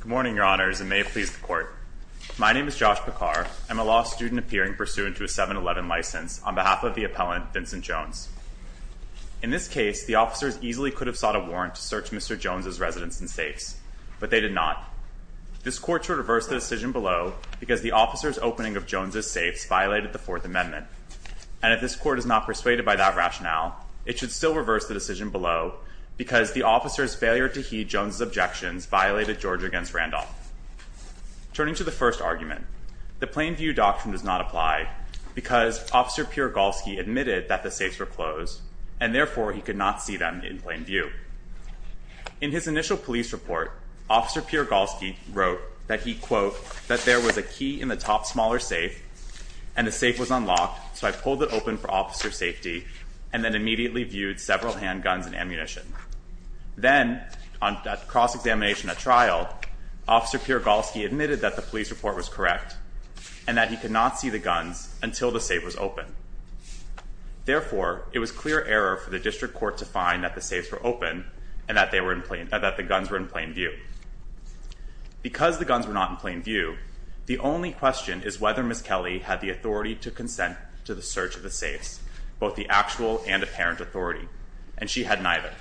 Good morning, your honors, and may it please the court. My name is Josh Pekar. I'm a law student appearing pursuant to a 7-11 license on behalf of the appellant, Vincent Jones. In this case, the officers easily could have sought a warrant to search Mr. Jones's residence and safes, but they did not. This court should reverse the decision below because the officer's opening of Jones's safes violated the Fourth Amendment, and if this court is not persuaded by that rationale, it should still reverse the decision below because the officer's failure to heed Jones's Randolph. Turning to the first argument, the Plain View Doctrine does not apply because Officer Piergalski admitted that the safes were closed, and therefore he could not see them in plain view. In his initial police report, Officer Piergalski wrote that he, quote, that there was a key in the top smaller safe, and the safe was unlocked, so I pulled it open for officer safety, and then Officer Piergalski admitted that the police report was correct, and that he could not see the guns until the safe was open. Therefore, it was clear error for the district court to find that the safes were open, and that they were in plain, that the guns were in plain view. Because the guns were not in plain view, the only question is whether Ms. Kelly had the authority to consent to the search of the safes, both the actual and apparent authority, and she had neither.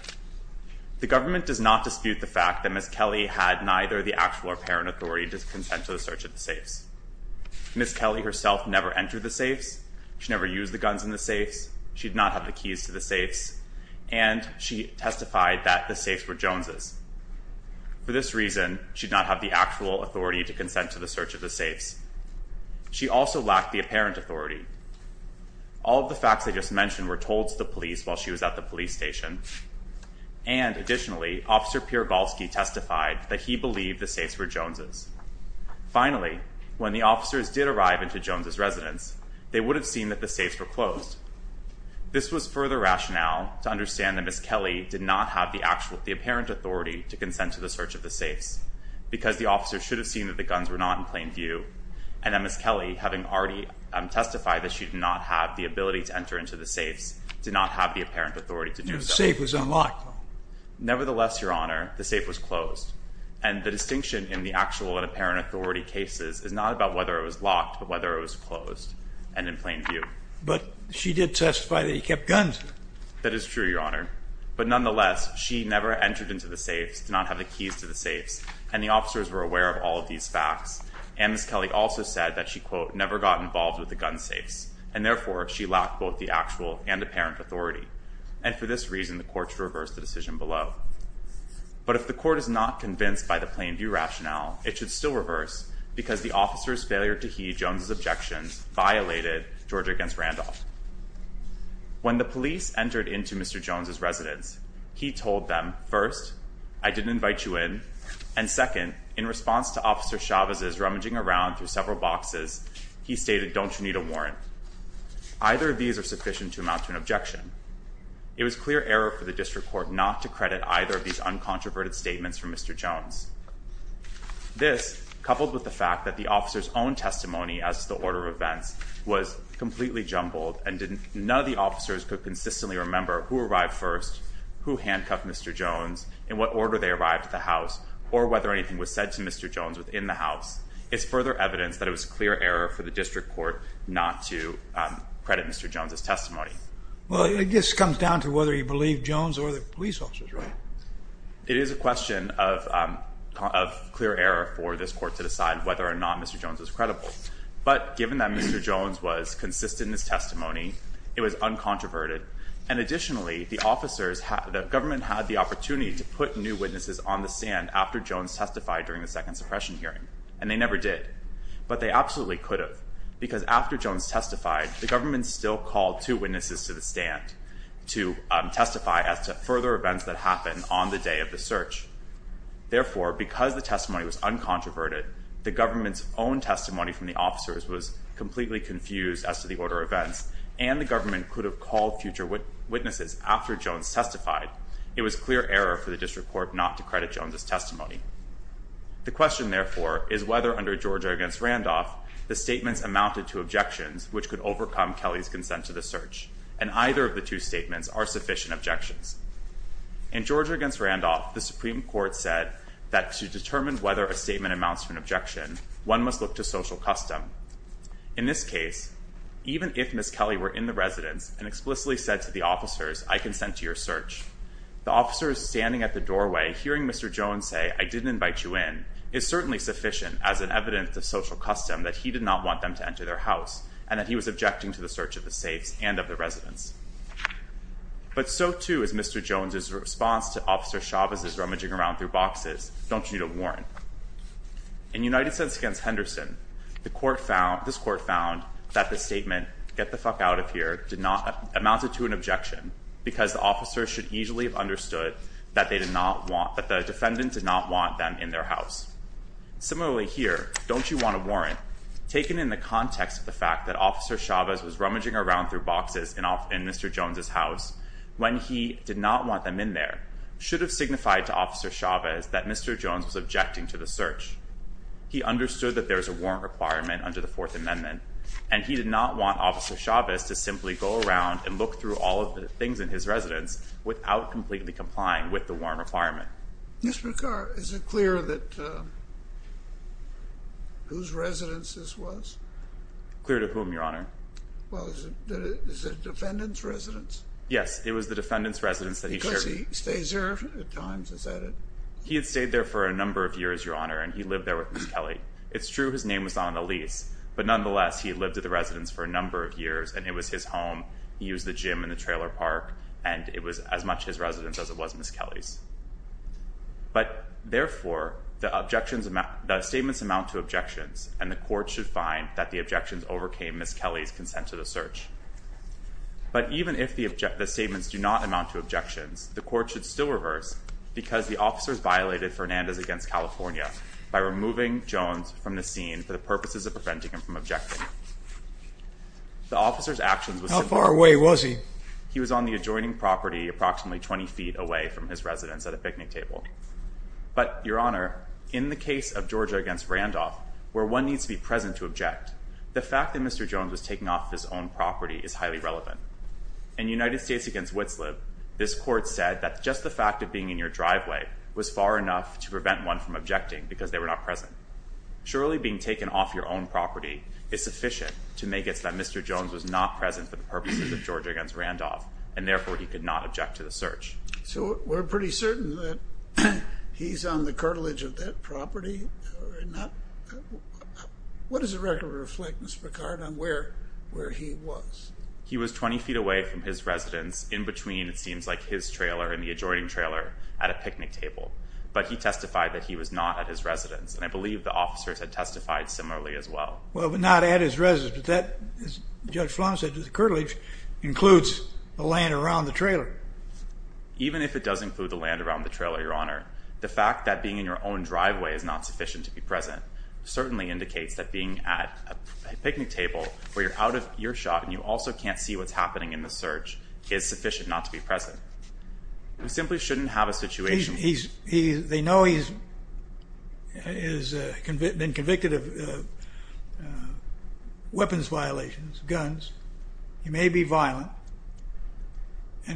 The government does not dispute the fact that Ms. Kelly had neither the actual or apparent authority to consent to the search of the safes. Ms. Kelly herself never entered the safes, she never used the guns in the safes, she did not have the keys to the safes, and she testified that the safes were Jones's. For this reason, she did not have the actual authority to consent to the search of the safes. She also lacked the apparent authority. All of the facts I just mentioned were told to the police while she was at the police station, and additionally, Officer Piergalski testified that he believed the safes were Jones's. Finally, when the officers did arrive into Jones's residence, they would have seen that the safes were closed. This was further rationale to understand that Ms. Kelly did not have the actual, the apparent authority to consent to the search of the safes, because the officers should have seen that the guns were not in plain view, and that Ms. Kelly, having already testified that she did not have the ability to enter into the safes, did not have the apparent authority to do so. Nevertheless, Your Honor, the safe was closed, and the distinction in the actual and apparent authority cases is not about whether it was locked, but whether it was closed and in plain view. But she did testify that he kept guns. That is true, Your Honor, but nonetheless, she never entered into the safes, did not have the keys to the safes, and the officers were aware of all of these facts, and Ms. Kelly also said that she, quote, never got involved with the gun safes, and therefore, she lacked both the actual and apparent authority. And for this reason, the court should reverse the decision below. But if the court is not convinced by the plain view rationale, it should still reverse, because the officers' failure to heed Jones's objections violated Georgia against Randolph. When the police entered into Mr. Jones's residence, he told them, first, I didn't invite you in, and second, in response to Officer Chavez's rummaging around through several boxes, he stated, don't you need a warrant? Either of these are sufficient to amount to an objection. It was clear error for the district court not to credit either of these uncontroverted statements from Mr. Jones. This, coupled with the fact that the officer's own testimony as to the order of events was completely jumbled, and none of the officers could consistently remember who arrived first, who handcuffed Mr. Jones, in what order they arrived at the house, or whether anything was said to Mr. Jones within the house, is further evidence that it was clear error for the district court not to credit Mr. Jones's testimony. Well, it just comes down to whether you believe Jones or the police officers, right? It is a question of clear error for this court to decide whether or not Mr. Jones was credible. But given that Mr. Jones was consistent in his testimony, it was uncontroverted, and additionally, the government had the opportunity to put new witnesses on the stand after Jones testified during the second suppression hearing, and they never did. But they absolutely could have, because after Jones testified, the government still called two witnesses to the stand to testify as to further events that happened on the day of the search. Therefore, because the testimony was uncontroverted, the government's own testimony from the officers was completely confused as to the order of events, and the was clear error for the district court not to credit Jones's testimony. The question, therefore, is whether under Georgia against Randolph, the statements amounted to objections which could overcome Kelly's consent to the search, and either of the two statements are sufficient objections. In Georgia against Randolph, the Supreme Court said that to determine whether a statement amounts to an objection, one must look to social custom. In this case, even if Ms. Kelly were in the residence and explicitly said to the officers, I consent to your search, the officers standing at the doorway hearing Mr. Jones say, I didn't invite you in, is certainly sufficient as an evidence of social custom that he did not want them to enter their house, and that he was objecting to the search of the safes and of the residence. But so too is Mr. Jones's response to Officer Chavez's rummaging around through boxes, don't you need a warrant? In United States against Henderson, this court found that the statement, get the fuck out of here, amounted to an objection because the officers should easily have understood that the defendant did not want them in their house. Similarly here, don't you want a warrant? Taken in the context of the fact that Officer Chavez was rummaging around through boxes in Mr. Jones's house when he did not want them in there should have signified to Officer Chavez that Mr. Jones was objecting to the search. He understood that there was a warrant requirement under the Fourth Amendment, and he did not want Officer Chavez to simply go around and look through all of the things in his residence without completely complying with the warrant requirement. Mr. Picard, is it clear that whose residence this was? Clear to whom, Your Honor? Well, is it the defendant's residence? Yes, it was the defendant's residence that he shared. Because he stays there at times, is that it? He had stayed there for a number of years, and he lived there with Ms. Kelly. It's true his name was on the lease, but nonetheless he lived at the residence for a number of years, and it was his home. He used the gym in the trailer park, and it was as much his residence as it was Ms. Kelly's. But therefore, the statements amount to objections, and the court should find that the objections overcame Ms. Kelly's consent to the search. But even if the statements do not amount to objections, the court should still reverse because the officers violated Fernandez against California by removing Jones from the scene for the purposes of preventing him from objecting. How far away was he? He was on the adjoining property approximately 20 feet away from his residence at a picnic table. But, Your Honor, in the case of Georgia against Randolph, where one needs to be present to object, the fact that Mr. Jones was taking off his own property is highly relevant. In United States against Witslip, this court said that just the fact of being in your driveway was far enough to prevent one from objecting because they were not present. Surely being taken off your own property is sufficient to make it so that Mr. Jones was not present for the purposes of Georgia against Randolph, and therefore he could not object to the search. So we're pretty certain that he's on the cartilage of that property? Or not? What does the record reflect, Mr. Picard, on where he was? He was 20 feet away from his residence in between, it seems like, his trailer and the adjoining trailer at a picnic table. But he testified that he was not at his residence, and I believe the officers had testified similarly as well. Well, but not at his residence, but that, as Judge Flanagan said, the cartilage includes the land around the trailer. Even if it does include the land around the trailer, Your Honor, the fact that being in your own driveway is not sufficient to be present certainly indicates that being at a picnic table where you're out of your shot and you also can't see what's happening in the search is sufficient not to be present. We simply shouldn't have a situation... He's, they know he's been convicted of weapons violations, guns. He may be violent,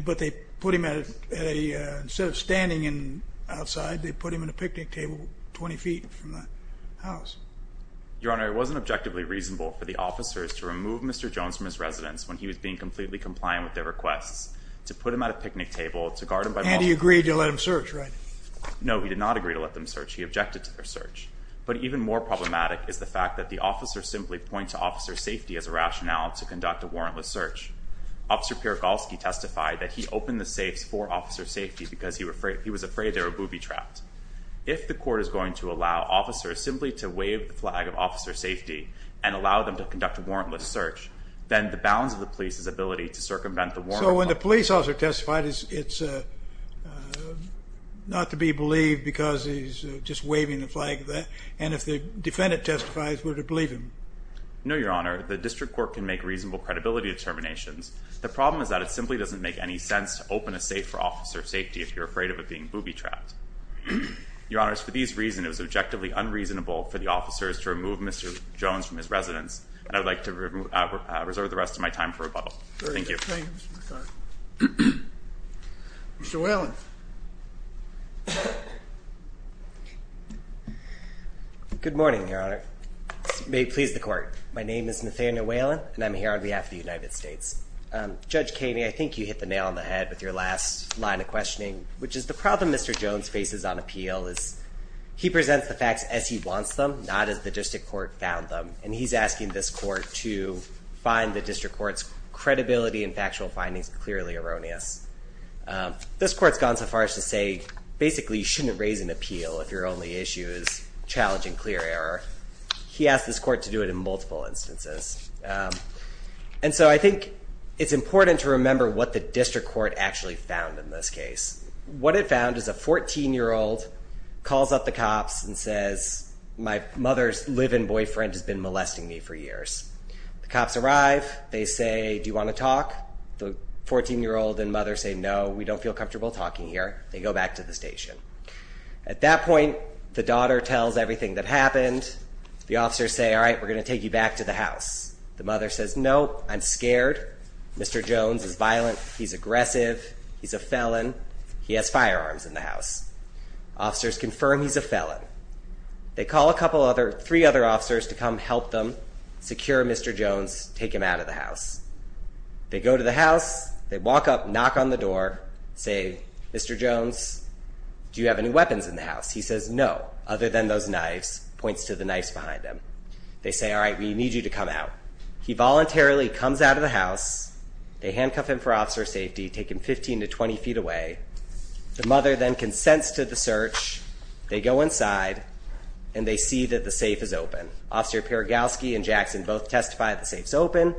but they put him at a, instead of standing outside, they put him in a picnic table 20 feet from the house. Your Honor, it wasn't objectively reasonable for the officers to remove Mr. Jones from his residence when he was being completely compliant with their requests to put him at a picnic table to guard him by... And he agreed to let him search, right? No, he did not agree to let them search. He objected to their search. But even more problematic is the fact that the officers simply point to officer safety as a rationale to conduct a warrantless search. Officer Piergalski testified that he opened the safes for officer safety because he was afraid they were booby trapped. If the court is going to allow officers simply to wave the flag of officer safety and allow them to conduct a warrantless search, then the bounds of the police's ability to circumvent the warrant... So when the police officer testified, it's not to be believed because he's just waving the flag, and if the defendant testifies, we're to believe him? No, Your Honor, the district court can make reasonable credibility determinations. The problem is that it simply doesn't make any sense to open a safe for officer safety if you're afraid of it being booby trapped. Your Honor, for these reasons, it was objectively unreasonable for the officers to remove Mr. Jones from his residence, and I would like to reserve the rest of my time for rebuttal. Thank you. Mr. Whalen. Good morning, Your Honor. May it please the court. My name is Nathaniel Whalen, and I'm here on behalf of the United States. Judge Kaney, I think you hit the nail on the head with your last line of questioning, which is the problem Mr. Jones faces on appeal is he presents the facts as he wants them, not as the district court found them, and he's asking this court to find the district court's to say basically you shouldn't raise an appeal if your only issue is challenging clear error. He asked this court to do it in multiple instances, and so I think it's important to remember what the district court actually found in this case. What it found is a 14-year-old calls up the cops and says, my mother's live-in boyfriend has been molesting me for years. The cops arrive. They say, do you want to talk? The 14-year-old and mother say, no, we don't feel comfortable talking here. They go back to the station. At that point, the daughter tells everything that happened. The officers say, all right, we're going to take you back to the house. The mother says, no, I'm scared. Mr. Jones is violent. He's aggressive. He's a felon. He has firearms in the house. Officers confirm he's a felon. They call a couple other three other officers to come help them secure Mr. Jones, take him out of the house. They go to the house. They walk up, knock on the door, say, Mr. Jones, do you have any weapons in the house? He says, no, other than those knives, points to the knives behind him. They say, all right, we need you to come out. He voluntarily comes out of the house. They handcuff him for officer safety, take him 15 to 20 feet away. The mother then consents to the search. They go inside, and they see that the safe is open. Officer Piergalski and Jackson both testify the safe's open.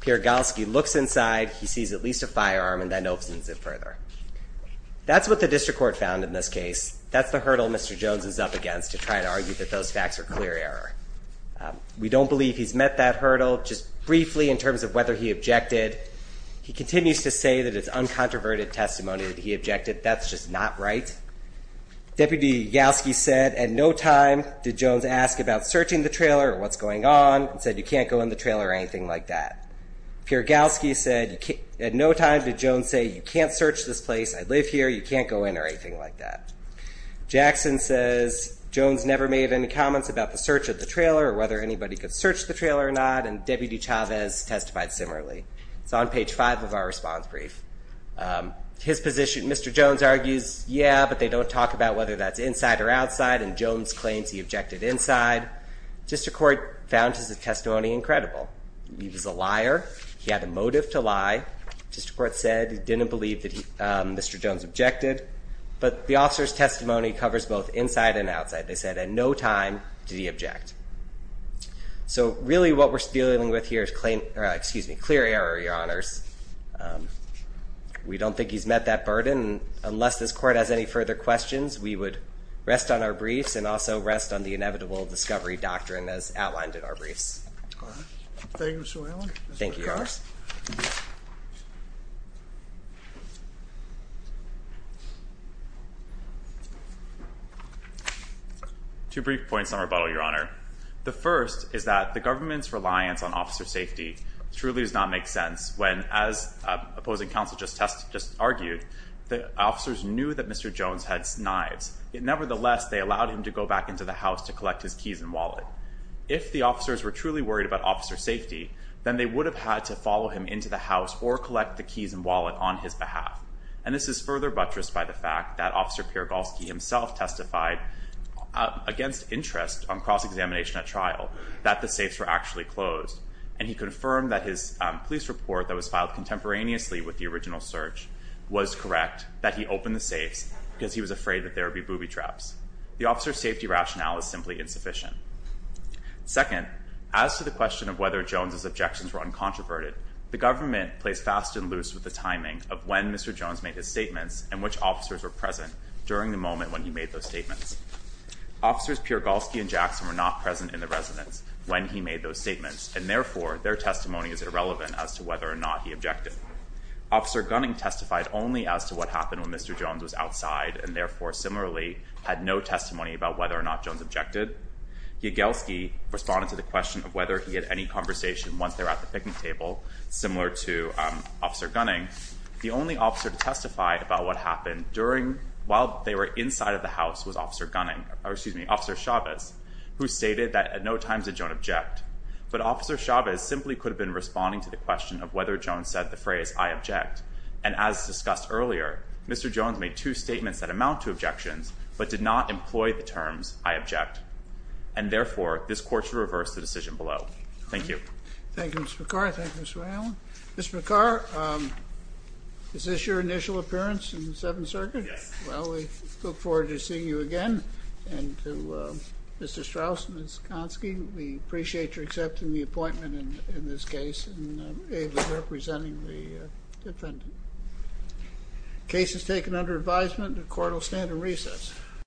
Piergalski looks inside. He sees at firearm, and then opens it further. That's what the district court found in this case. That's the hurdle Mr. Jones is up against to try to argue that those facts are clear error. We don't believe he's met that hurdle. Just briefly in terms of whether he objected, he continues to say that it's uncontroverted testimony that he objected. That's just not right. Deputy Galski said at no time did Jones ask about searching the trailer or what's going on and said you can't go in the Jones say you can't search this place. I live here. You can't go in or anything like that. Jackson says Jones never made any comments about the search of the trailer or whether anybody could search the trailer or not, and Deputy Chavez testified similarly. It's on page five of our response brief. His position, Mr. Jones argues, yeah, but they don't talk about whether that's inside or outside, and Jones claims he objected inside. District Court found his testimony incredible. He was a liar. He had a motive to lie. District Court said he didn't believe that Mr. Jones objected, but the officer's testimony covers both inside and outside. They said at no time did he object. So really what we're dealing with here is clear error, Your Honors. We don't think he's met that burden. Unless this court has any further questions, we would rest on our briefs and also rest on the inevitable discovery doctrine as outlined in our briefs. Thank you, Mr. Whalen. Thank you, Your Honors. Two brief points on rebuttal, Your Honor. The first is that the government's reliance on officer safety truly does not make sense when, as opposing counsel just argued, the officers knew that Mr. Jones had knives. Nevertheless, they allowed him to go back into the house to then they would have had to follow him into the house or collect the keys and wallet on his behalf. And this is further buttressed by the fact that Officer Piergalski himself testified against interest on cross-examination at trial that the safes were actually closed, and he confirmed that his police report that was filed contemporaneously with the original search was correct, that he opened the safes because he was afraid that there would be booby traps. The officer's safety rationale is simply insufficient. Second, as to the question of whether Jones's objections were uncontroverted, the government plays fast and loose with the timing of when Mr. Jones made his statements and which officers were present during the moment when he made those statements. Officers Piergalski and Jackson were not present in the residence when he made those statements, and therefore, their testimony is irrelevant as to whether or not he objected. Officer Gunning testified only as to what happened when Mr. Jones was outside, and therefore, similarly, had no testimony about whether or not Jones objected. Piergalski responded to the question of whether he had any conversation once they were at the picnic table, similar to Officer Gunning. The only officer to testify about what happened while they were inside of the house was Officer Gunning, or excuse me, Officer Chavez, who stated that at no time did Jones object. But Officer Chavez simply could have been responding to the question of whether Jones said the phrase, I object. And as discussed earlier, Mr. Jones made two statements that amount to objections, but did not employ the terms, I object. And therefore, this court should reverse the decision below. Thank you. Thank you, Mr. McCarr. Thank you, Mr. Allen. Mr. McCarr, is this your initial appearance in the Seventh Circuit? Yes. Well, we look forward to seeing you again. And to Mr. Strauss and Ms. Gonski, we appreciate your accepting the appointment in this case and representing the defendant. The case is taken under advisement. The court will stand at recess.